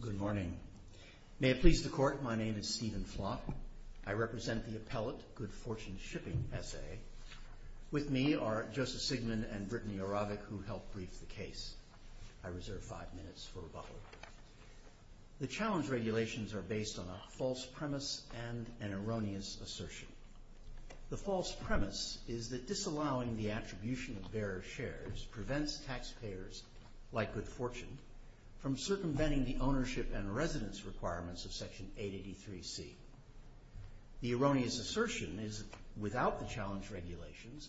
Good morning. May it please the Court, my name is Stephen Flock. I represent the appellate Good Fortune Shipping SA. With me are Justice Sigmund and Brittany Aravik, who helped brief the case. I reserve five minutes for rebuttal. The challenge regulations are based on a false premise and an erroneous assertion. The false premise is that disallowing the attribution of bearer shares prevents taxpayers, like Good Fortune, from circumventing the ownership and residence requirements of Section 883C. The erroneous assertion is that without the challenge regulations,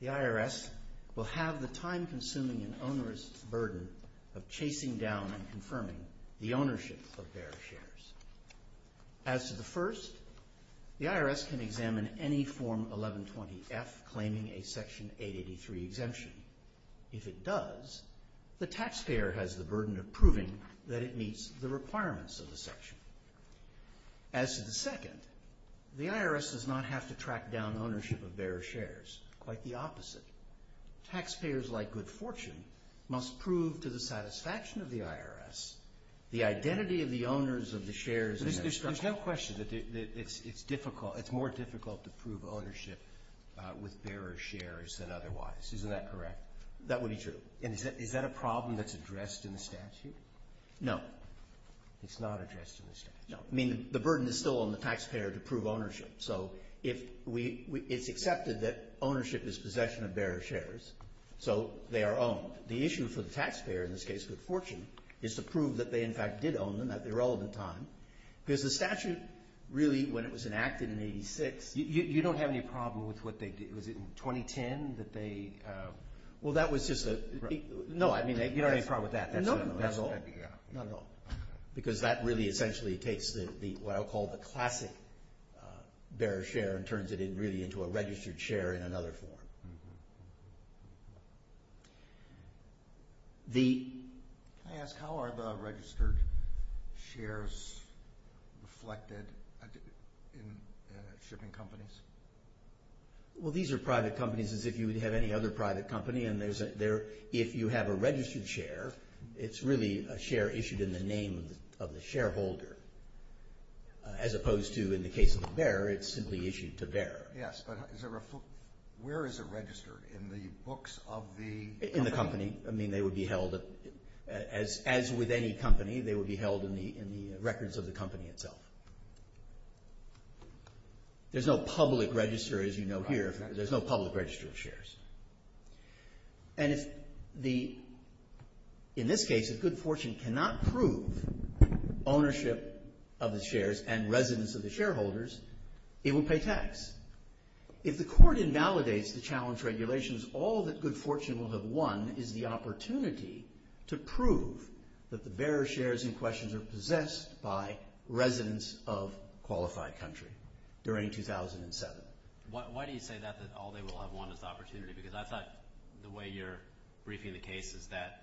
the IRS will have the time-consuming and onerous burden of chasing down and confirming the ownership of bearer shares. As to the first, the IRS can examine any Form 1120F claiming a Section 883 exemption. If it does, the taxpayer has the burden of proving that it meets the requirements of the Section. As to the second, the IRS does not have to track down ownership of bearer shares. Quite the opposite. Taxpayers, like Good Fortune, must prove to the satisfaction of the IRS the identity of the owners of the shares in their structure. There's no question that it's more difficult to prove ownership with bearer shares than otherwise. Isn't that correct? That would be true. And is that a problem that's addressed in the statute? No. It's not addressed in the statute. No. I mean, the burden is still on the taxpayer to prove ownership. So it's accepted that ownership is possession of bearer shares, so they are owned. The issue for the taxpayer, in this case Good Fortune, is to prove that they, in fact, did own them at the relevant time. Because the statute, really, when it was enacted in 86… You don't have any problem with what they did. Was it in 2010 that they… Well, that was just a… No, I mean, you don't have any problem with that. No, not at all. Because that really essentially takes what I'll call the classic bearer share and turns it really into a registered share in another form. Can I ask, how are the registered shares reflected in shipping companies? Well, these are private companies as if you would have any other private company. And if you have a registered share, it's really a share issued in the name of the shareholder. As opposed to, in the case of the bearer, it's simply issued to bearer. Yes, but where is it registered? In the books of the company? In the company. I mean, they would be held, as with any company, they would be held in the records of the company itself. There's no public register, as you know here, there's no public register of shares. And if the, in this case, if Good Fortune cannot prove ownership of the shares and residence of the shareholders, it will pay tax. If the court invalidates the challenge regulations, all that Good Fortune will have won is the opportunity to prove that the bearer shares in question are possessed by residents of qualified country during 2007. Why do you say that, that all they will have won is the opportunity? Because I thought the way you're briefing the case is that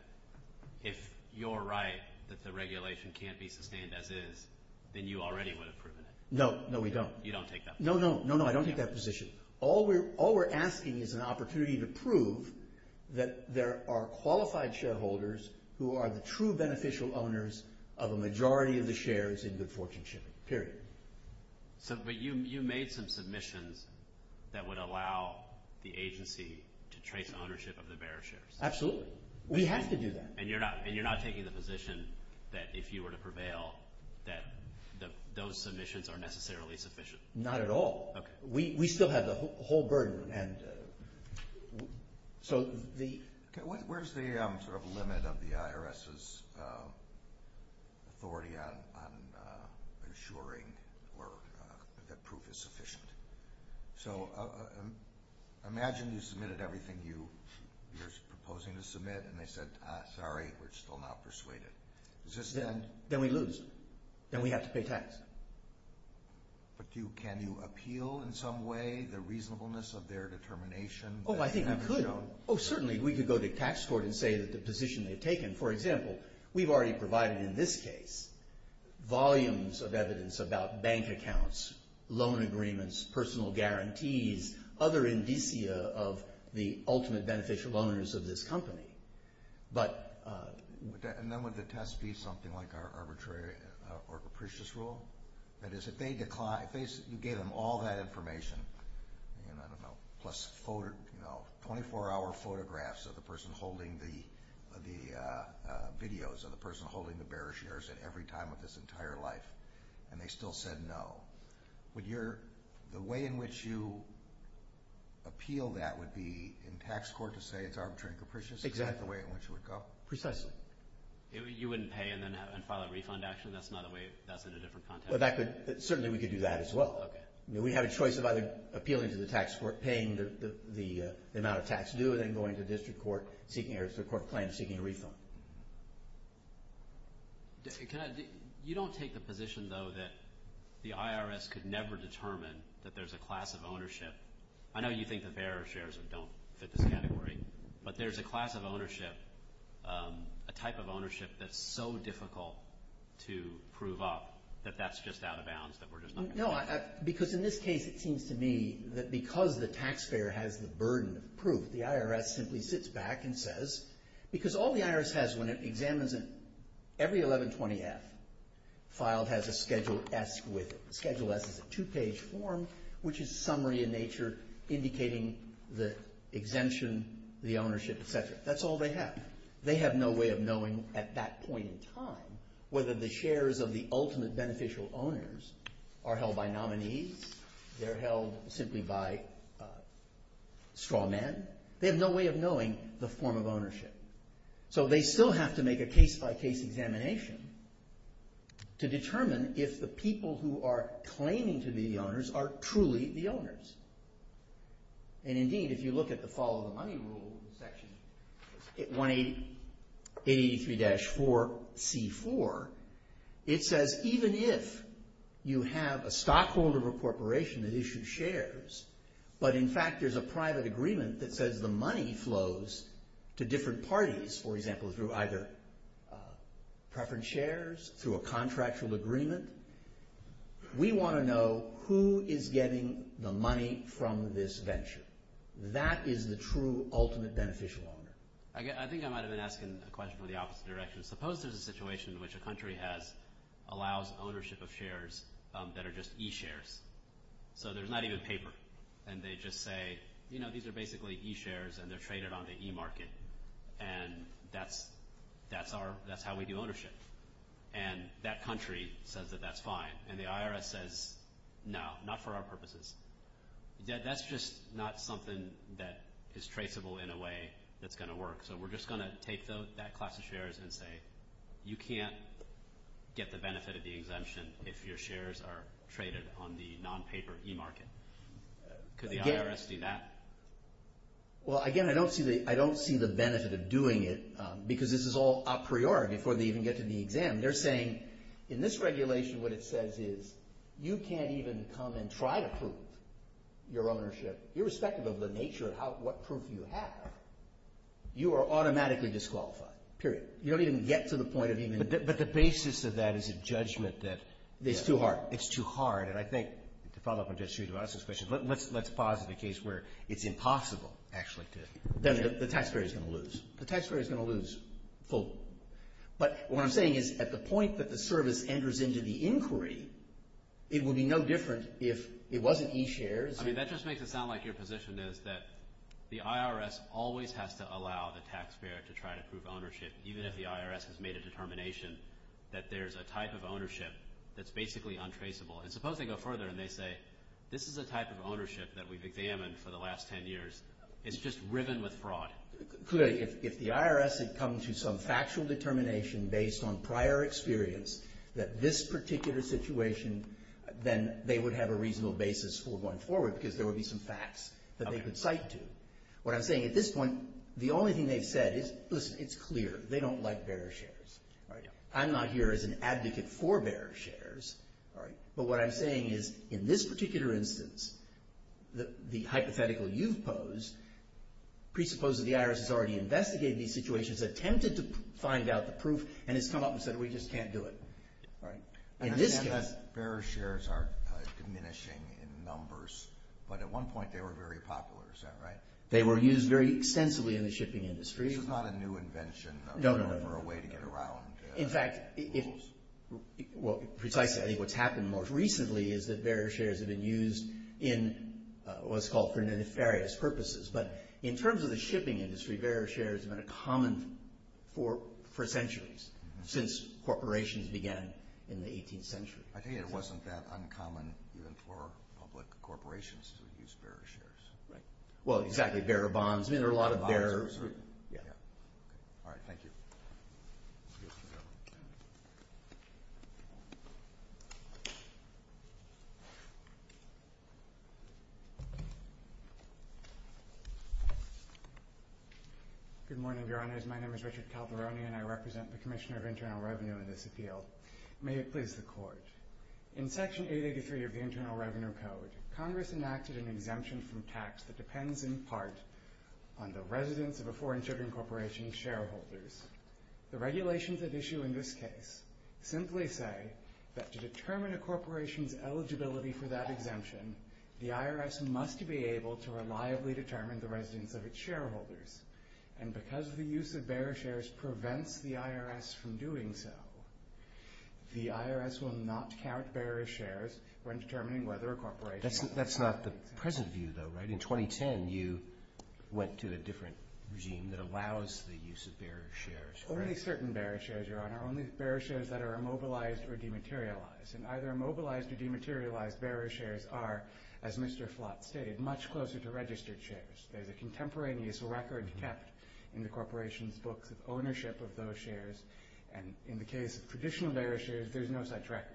if you're right that the regulation can't be sustained as is, then you already would have proven it. No, no we don't. You don't take that position? No, no, no, no, I don't take that position. All we're asking is an opportunity to prove that there are qualified shareholders who are the true beneficial owners of a majority of the shares in Good Fortune shipping, period. So, but you made some submissions that would allow the agency to trace ownership of the bearer shares. Absolutely. We have to do that. And you're not taking the position that if you were to prevail that those submissions are necessarily sufficient? Not at all. Okay. We still have the whole burden and so the… Where's the sort of limit of the IRS's authority on ensuring that proof is sufficient? So, imagine you submitted everything you're proposing to submit and they said, ah, sorry, we're still not persuaded. Then we lose. Then we have to pay tax. But can you appeal in some way the reasonableness of their determination? Oh, I think we could. Oh, certainly. We could go to tax court and say that the position they've taken. For example, we've already provided in this case volumes of evidence about bank accounts, loan agreements, personal guarantees, other indicia of the ultimate beneficial owners of this company. But… And then would the test be something like our arbitrary or capricious rule? That is, if you gave them all that information, plus 24-hour photographs of the person holding the videos, of the person holding the bearer shares at every time of this entire life, and they still said no, would the way in which you appeal that would be in tax court to say it's arbitrary and capricious? Exactly. Is that the way in which it would go? Precisely. You wouldn't pay and then file a refund action? That's not a way – that's in a different context? Well, that could – certainly we could do that as well. We have a choice of either appealing to the tax court, paying the amount of tax due, and then going to the district court seeking – the court claim seeking a refund. You don't take the position, though, that the IRS could never determine that there's a class of ownership. I know you think the bearer shares don't fit this category. But there's a class of ownership, a type of ownership that's so difficult to prove up that that's just out of bounds, that we're just not going to have it. No, because in this case it seems to me that because the taxpayer has the burden of proof, the IRS simply sits back and says – because all the IRS has when it examines it, every 1120-F filed has a Schedule S with it. That's all they have. They have no way of knowing at that point in time whether the shares of the ultimate beneficial owners are held by nominees, they're held simply by straw men. They have no way of knowing the form of ownership. So they still have to make a case-by-case examination to determine if the people who are claiming to be the owners are truly the owners. And indeed, if you look at the follow the money rule section, 183-4C4, it says even if you have a stockholder of a corporation that issues shares, but in fact there's a private agreement that says the money flows to different parties, for example through either preference shares, through a contractual agreement, we want to know who is getting the money from this venture. That is the true ultimate beneficial owner. I think I might have been asking a question from the opposite direction. Suppose there's a situation in which a country allows ownership of shares that are just e-shares. So there's not even paper, and they just say, you know, these are basically e-shares, and they're traded on the e-market, and that's how we do ownership. And that country says that that's fine, and the IRS says, no, not for our purposes. That's just not something that is traceable in a way that's going to work. So we're just going to take that class of shares and say, you can't get the benefit of the exemption if your shares are traded on the non-paper e-market. Could the IRS do that? Well, again, I don't see the benefit of doing it, because this is all a priori before they even get to the exam. They're saying, in this regulation, what it says is you can't even come and try to prove your ownership, irrespective of the nature of what proof you have. You are automatically disqualified, period. You don't even get to the point of even – But the basis of that is a judgment that – It's too hard. It's too hard. And I think, to follow up on Judge Judy Watson's question, let's pause at the case where it's impossible actually to – Then the taxpayer is going to lose. The taxpayer is going to lose full. But what I'm saying is at the point that the service enters into the inquiry, it would be no different if it wasn't e-shares. I mean, that just makes it sound like your position is that the IRS always has to allow the taxpayer to try to prove ownership, even if the IRS has made a determination that there's a type of ownership that's basically untraceable. And suppose they go further and they say, this is a type of ownership that we've examined for the last 10 years. It's just riven with fraud. Clearly, if the IRS had come to some factual determination based on prior experience that this particular situation, then they would have a reasonable basis for going forward because there would be some facts that they could cite to. What I'm saying at this point, the only thing they've said is, listen, it's clear. They don't like bearer shares. I'm not here as an advocate for bearer shares. But what I'm saying is in this particular instance, the hypothetical you've posed, presuppose that the IRS has already investigated these situations, attempted to find out the proof, and has come up and said, we just can't do it. In this case. Bearer shares are diminishing in numbers, but at one point they were very popular. Is that right? They were used very extensively in the shipping industry. This is not a new invention or a way to get around rules. Precisely. I think what's happened most recently is that bearer shares have been used in what's called for nefarious purposes. But in terms of the shipping industry, bearer shares have been a common for centuries since corporations began in the 18th century. I think it wasn't that uncommon even for public corporations to use bearer shares. Well, exactly. Bearer bonds. There are a lot of bearers. All right. Thank you. Excuse me. Good morning, Your Honors. My name is Richard Calveroni, and I represent the Commissioner of Internal Revenue in this appeal. May it please the Court. In Section 883 of the Internal Revenue Code, Congress enacted an exemption from tax that depends in part on the residence of a foreign shipping corporation's shareholders. The regulations at issue in this case simply say that to determine a corporation's eligibility for that exemption, the IRS must be able to reliably determine the residence of its shareholders. And because the use of bearer shares prevents the IRS from doing so, the IRS will not count bearer shares when determining whether a corporation is eligible. That's not the present view, though, right? In 2010, you went to a different regime that allows the use of bearer shares. Only certain bearer shares, Your Honor. Only bearer shares that are immobilized or dematerialized. And either immobilized or dematerialized bearer shares are, as Mr. Flott stated, much closer to registered shares. There's a contemporaneous record kept in the corporation's books of ownership of those shares. And in the case of traditional bearer shares, there's no such record.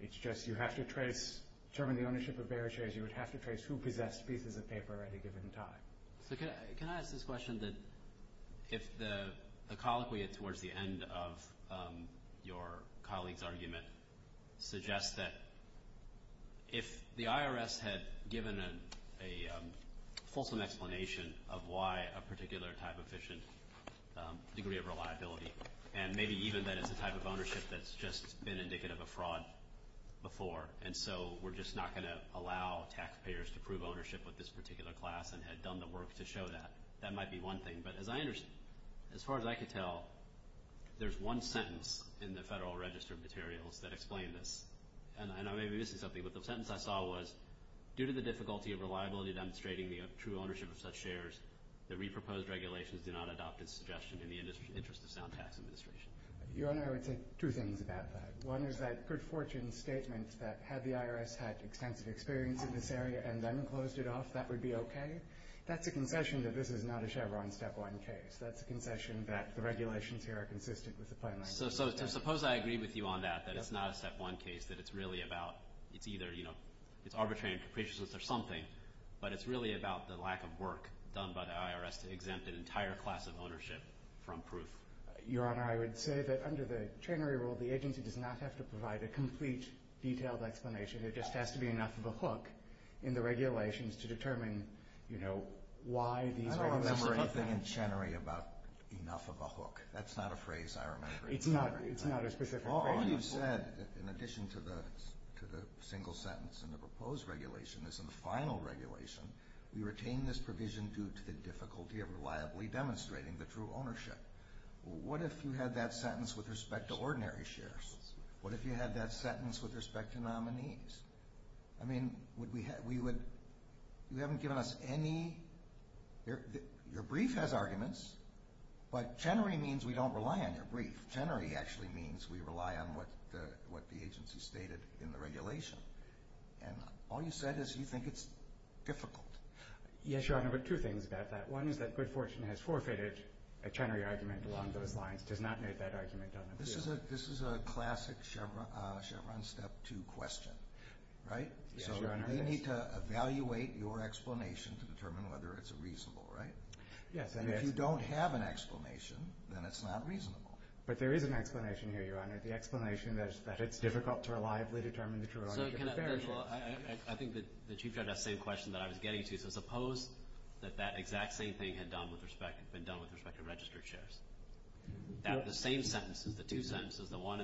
It's just you have to trace, to determine the ownership of bearer shares, you would have to trace who possessed pieces of paper at any given time. So can I ask this question, that if the colloquy towards the end of your colleague's argument suggests that if the IRS had given a fulsome explanation of why a particular type of efficient degree of reliability, and maybe even that it's a type of ownership that's just been indicative of fraud before, and so we're just not going to allow taxpayers to prove ownership with this particular class and had done the work to show that, that might be one thing. But as far as I can tell, there's one sentence in the Federal Register of Materials that explains this. And I may be missing something, but the sentence I saw was, due to the difficulty of reliability demonstrating the true ownership of such shares, the re-proposed regulations do not adopt its suggestion in the interest of sound tax administration. Your Honor, I would say two things about that. One is that good fortune statement that had the IRS had extensive experience in this area and then closed it off, that would be okay. That's a concession that this is not a Chevron step one case. That's a concession that the regulations here are consistent with the plan. So suppose I agree with you on that, that it's not a step one case, that it's really about, it's either, you know, it's arbitrary and capricious or something, but it's really about the lack of work done by the IRS to exempt an entire class of ownership from proof. Your Honor, I would say that under the Chenery rule, the agency does not have to provide a complete, detailed explanation. It just has to be enough of a hook in the regulations to determine, you know, why these regulations are— I don't remember anything in Chenery about enough of a hook. That's not a phrase I remember. It's not a specific phrase. All you've said, in addition to the single sentence in the proposed regulation, is in the final regulation, we retain this provision due to the difficulty of reliably demonstrating the true ownership. What if you had that sentence with respect to ordinary shares? What if you had that sentence with respect to nominees? I mean, would we have—you haven't given us any—your brief has arguments, but Chenery means we don't rely on your brief. Chenery actually means we rely on what the agency stated in the regulation. And all you said is you think it's difficult. Yes, Your Honor, but two things about that. One is that Good Fortune has forfeited a Chenery argument along those lines, does not make that argument on appeal. This is a classic Chevron Step 2 question, right? Yes, Your Honor. So we need to evaluate your explanation to determine whether it's reasonable, right? Yes. And if you don't have an explanation, then it's not reasonable. But there is an explanation here, Your Honor, the explanation that it's difficult to reliably determine the true ownership of shares. I think the Chief Judge asked the same question that I was getting to. So suppose that that exact same thing had been done with respect to registered shares. The same sentences, the two sentences, the one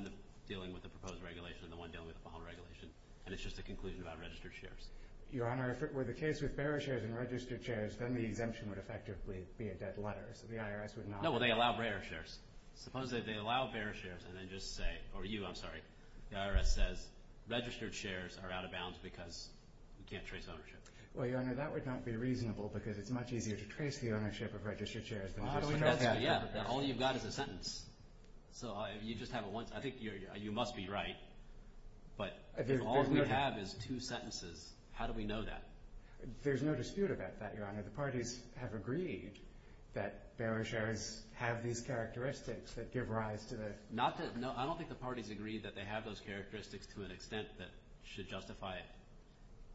dealing with the proposed regulation and the one dealing with the following regulation, and it's just a conclusion about registered shares. Your Honor, if it were the case with bearer shares and registered shares, then the exemption would effectively be a dead letter. So the IRS would not— No, well, they allow bearer shares. Suppose that they allow bearer shares and then just say—or you, I'm sorry. The IRS says registered shares are out of bounds because you can't trace ownership. Well, Your Honor, that would not be reasonable because it's much easier to trace the ownership of registered shares than just— Yeah, all you've got is a sentence. So you just have it once. I think you must be right, but if all we have is two sentences, how do we know that? There's no dispute about that, Your Honor. The parties have agreed that bearer shares have these characteristics that give rise to the— Not to—no, I don't think the parties agreed that they have those characteristics to an extent that should justify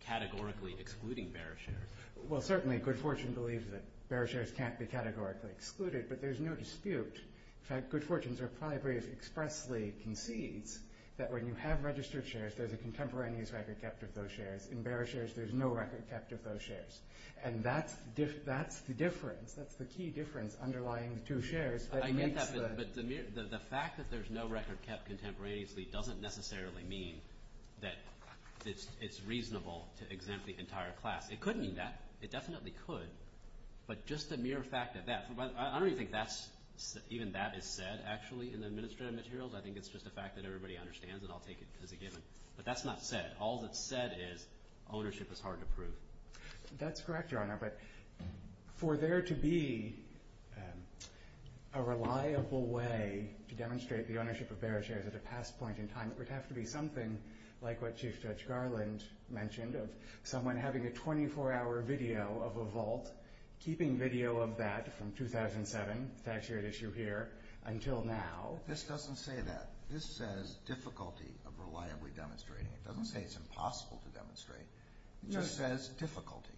categorically excluding bearer shares. Well, certainly, Good Fortune believes that bearer shares can't be categorically excluded, but there's no dispute. In fact, Good Fortune's reply brief expressly concedes that when you have registered shares, there's a contemporaneous record kept of those shares. In bearer shares, there's no record kept of those shares. And that's the difference. That's the key difference underlying the two shares. I get that, but the fact that there's no record kept contemporaneously doesn't necessarily mean that it's reasonable to exempt the entire class. It could mean that. It definitely could, but just the mere fact that that— I don't even think even that is said, actually, in the administrative materials. I think it's just a fact that everybody understands, and I'll take it as a given. But that's not said. All that's said is ownership is hard to prove. That's correct, Your Honor, but for there to be a reliable way to demonstrate the ownership of bearer shares at a past point in time, it would have to be something like what Chief Judge Garland mentioned of someone having a 24-hour video of a vault, keeping video of that from 2007, that shared issue here, until now. This doesn't say that. This says difficulty of reliably demonstrating it. It doesn't say it's impossible to demonstrate. It just says difficulty.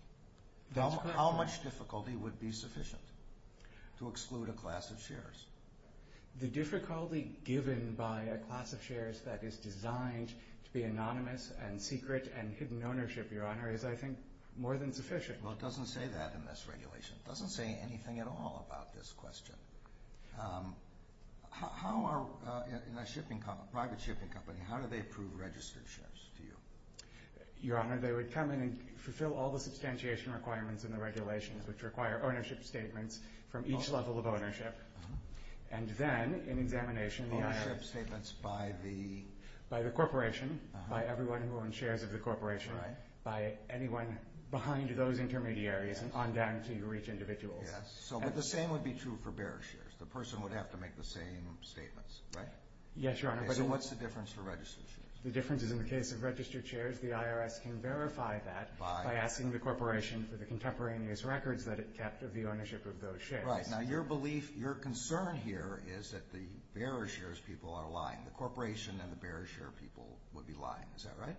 How much difficulty would be sufficient to exclude a class of shares? The difficulty given by a class of shares that is designed to be anonymous and secret and hidden ownership, Your Honor, is, I think, more than sufficient. Well, it doesn't say that in this regulation. It doesn't say anything at all about this question. In a private shipping company, how do they approve registered shares to you? Your Honor, they would come in and fulfill all the substantiation requirements in the regulations, which require ownership statements from each level of ownership. And then, in examination, the IRS— Ownership statements by the— By anyone who owns shares of the corporation. Right. By anyone behind those intermediaries and on down to each individual. Yes, but the same would be true for bearer shares. The person would have to make the same statements, right? Yes, Your Honor. So what's the difference for registered shares? The difference is, in the case of registered shares, the IRS can verify that by asking the corporation for the contemporaneous records that it kept of the ownership of those shares. Right. Now, your belief, your concern here is that the bearer shares people are lying. The corporation and the bearer share people would be lying. Is that right?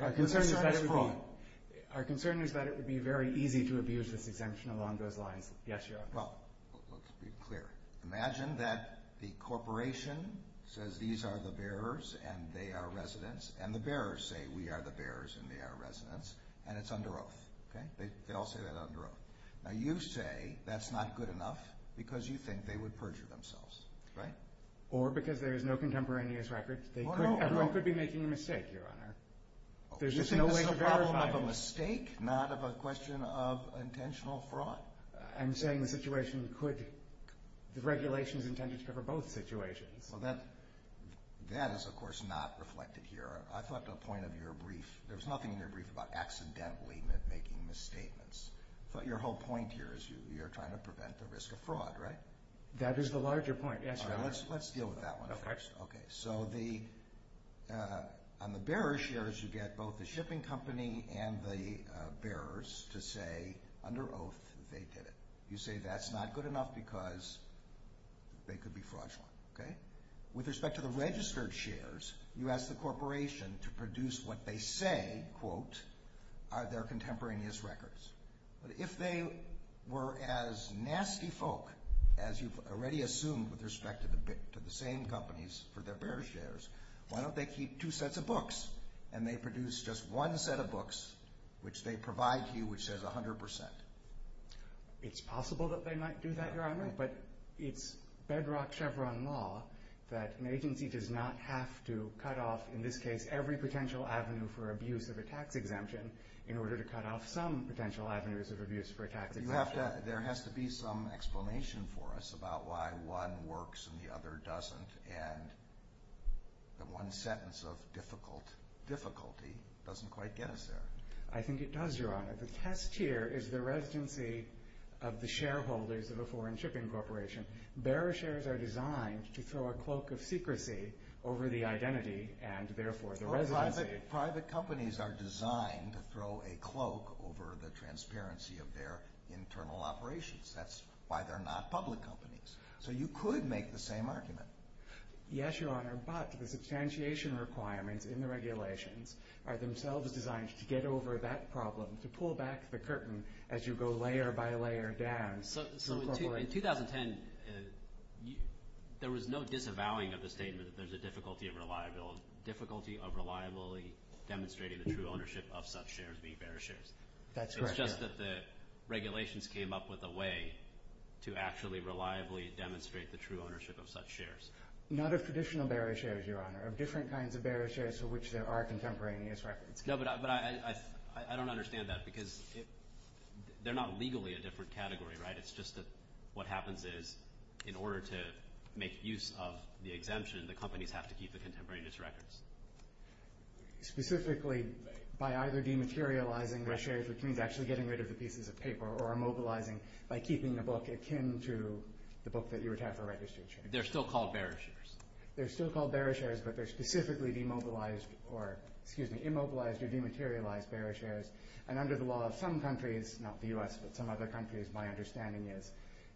Our concern is that it would be— Who's trying to prove? Our concern is that it would be very easy to abuse this exemption along those lines. Yes, Your Honor. Well, let's be clear. Imagine that the corporation says these are the bearers and they are residents, and the bearers say we are the bearers and they are residents, and it's under oath. Okay? They all say that under oath. Now, you say that's not good enough because you think they would perjure themselves. Right? Or because there is no contemporaneous records. Everyone could be making a mistake, Your Honor. You think this is a problem of a mistake, not of a question of intentional fraud? I'm saying the situation could—the regulation is intended to cover both situations. Well, that is, of course, not reflected here. I thought the point of your brief, there was nothing in your brief about accidentally making misstatements. I thought your whole point here is you're trying to prevent the risk of fraud, right? That is the larger point, yes, Your Honor. Let's deal with that one first. Okay. So on the bearer shares, you get both the shipping company and the bearers to say under oath they did it. You say that's not good enough because they could be fraudulent. Okay? With respect to the registered shares, you ask the corporation to produce what they say, quote, are their contemporaneous records. But if they were as nasty folk as you've already assumed with respect to the same companies for their bearer shares, why don't they keep two sets of books and they produce just one set of books which they provide to you which says 100%? It's possible that they might do that, Your Honor. But it's bedrock Chevron law that an agency does not have to cut off, in this case, every potential avenue for abuse of a tax exemption in order to cut off some potential avenues of abuse for a tax exemption. There has to be some explanation for us about why one works and the other doesn't, and that one sentence of difficulty doesn't quite get us there. I think it does, Your Honor. The test here is the residency of the shareholders of a foreign shipping corporation. Bearer shares are designed to throw a cloak of secrecy over the identity and, therefore, the residency. Private companies are designed to throw a cloak over the transparency of their internal operations. That's why they're not public companies. So you could make the same argument. Yes, Your Honor, but the substantiation requirements in the regulations are themselves designed to get over that problem, to pull back the curtain as you go layer by layer down. So in 2010, there was no disavowing of the statement that there's a difficulty of reliability, demonstrating the true ownership of such shares being bearer shares. That's correct. It's just that the regulations came up with a way to actually reliably demonstrate the true ownership of such shares. Not of traditional bearer shares, Your Honor, of different kinds of bearer shares for which there are contemporaneous records. No, but I don't understand that because they're not legally a different category, right? It's just that what happens is in order to make use of the exemption, the companies have to keep the contemporaneous records. Specifically by either dematerializing their shares, which means actually getting rid of the pieces of paper, or immobilizing by keeping the book akin to the book that you would have for registered shares. They're still called bearer shares. They're still called bearer shares, but they're specifically immobilized or dematerialized bearer shares. And under the law of some countries, not the U.S., but some other countries, my understanding is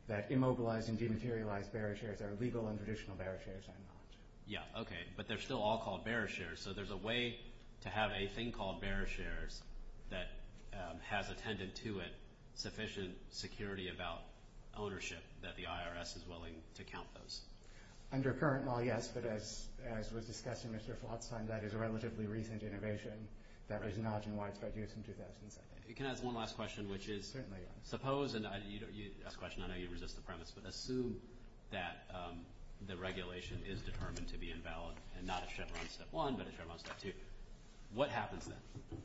that immobilized and dematerialized bearer shares are legal and traditional bearer shares and not. Yeah, okay, but they're still all called bearer shares. So there's a way to have a thing called bearer shares that has attended to it sufficient security about ownership that the IRS is willing to count those. Under current law, yes, but as was discussed in Mr. Flotstein, that is a relatively recent innovation. That was not in widespread use in 2007. Can I ask one last question, which is suppose, and you asked the question, I know you resist the premise, but assume that the regulation is determined to be invalid and not a Chevron Step 1, but a Chevron Step 2. What happens then?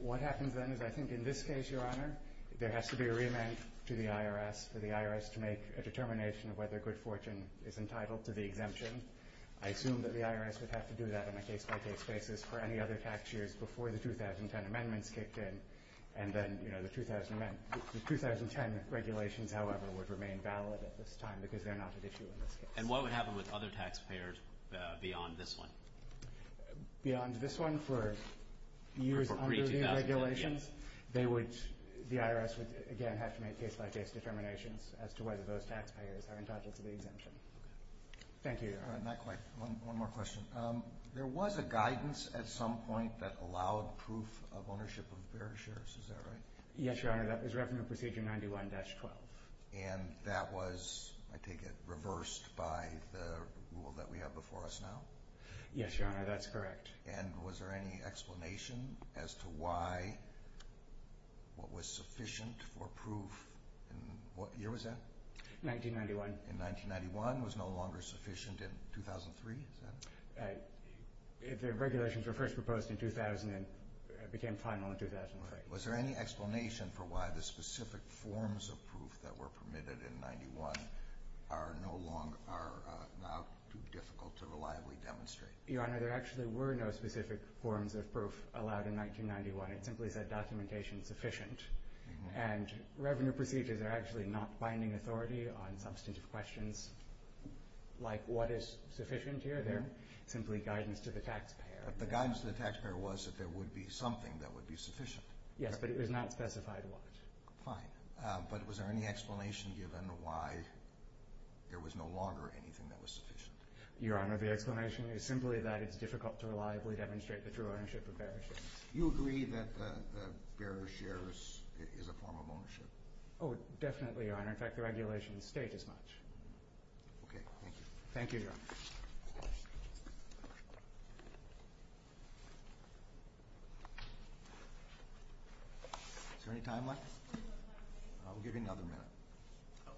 What happens then is I think in this case, Your Honor, there has to be a remand to the IRS, for the IRS to make a determination of whether good fortune is entitled to the exemption. I assume that the IRS would have to do that on a case-by-case basis for any other tax years before the 2010 amendments kicked in, and then the 2010 regulations, however, would remain valid at this time because they're not at issue in this case. And what would happen with other taxpayers beyond this one? Beyond this one, for years under the regulations, the IRS would again have to make case-by-case determinations as to whether those taxpayers are entitled to the exemption. Thank you, Your Honor. Not quite. One more question. There was a guidance at some point that allowed proof of ownership of various shares, is that right? Yes, Your Honor, that was Revenue Procedure 91-12. And that was, I take it, reversed by the rule that we have before us now? Yes, Your Honor, that's correct. And was there any explanation as to why what was sufficient for proof in what year was that? 1991. In 1991 was no longer sufficient in 2003? The regulations were first proposed in 2000 and became final in 2003. Was there any explanation for why the specific forms of proof that were permitted in 91 are now too difficult to reliably demonstrate? Your Honor, there actually were no specific forms of proof allowed in 1991. It simply said documentation sufficient. And revenue procedures are actually not binding authority on substantive questions like what is sufficient here. They're simply guidance to the taxpayer. But the guidance to the taxpayer was that there would be something that would be sufficient. Yes, but it was not specified what. Fine. But was there any explanation given why there was no longer anything that was sufficient? Your Honor, the explanation is simply that it's difficult to reliably demonstrate the true ownership of various shares. Do you agree that the bearer's share is a form of ownership? Oh, definitely, Your Honor. In fact, the regulations state as much. Okay. Thank you. Thank you, Your Honor. Is there any time left? I'll give you another minute.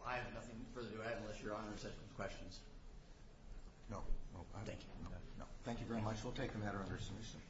I have nothing further to add unless Your Honor has questions. No. Thank you. Thank you very much. We'll take the matter under submission.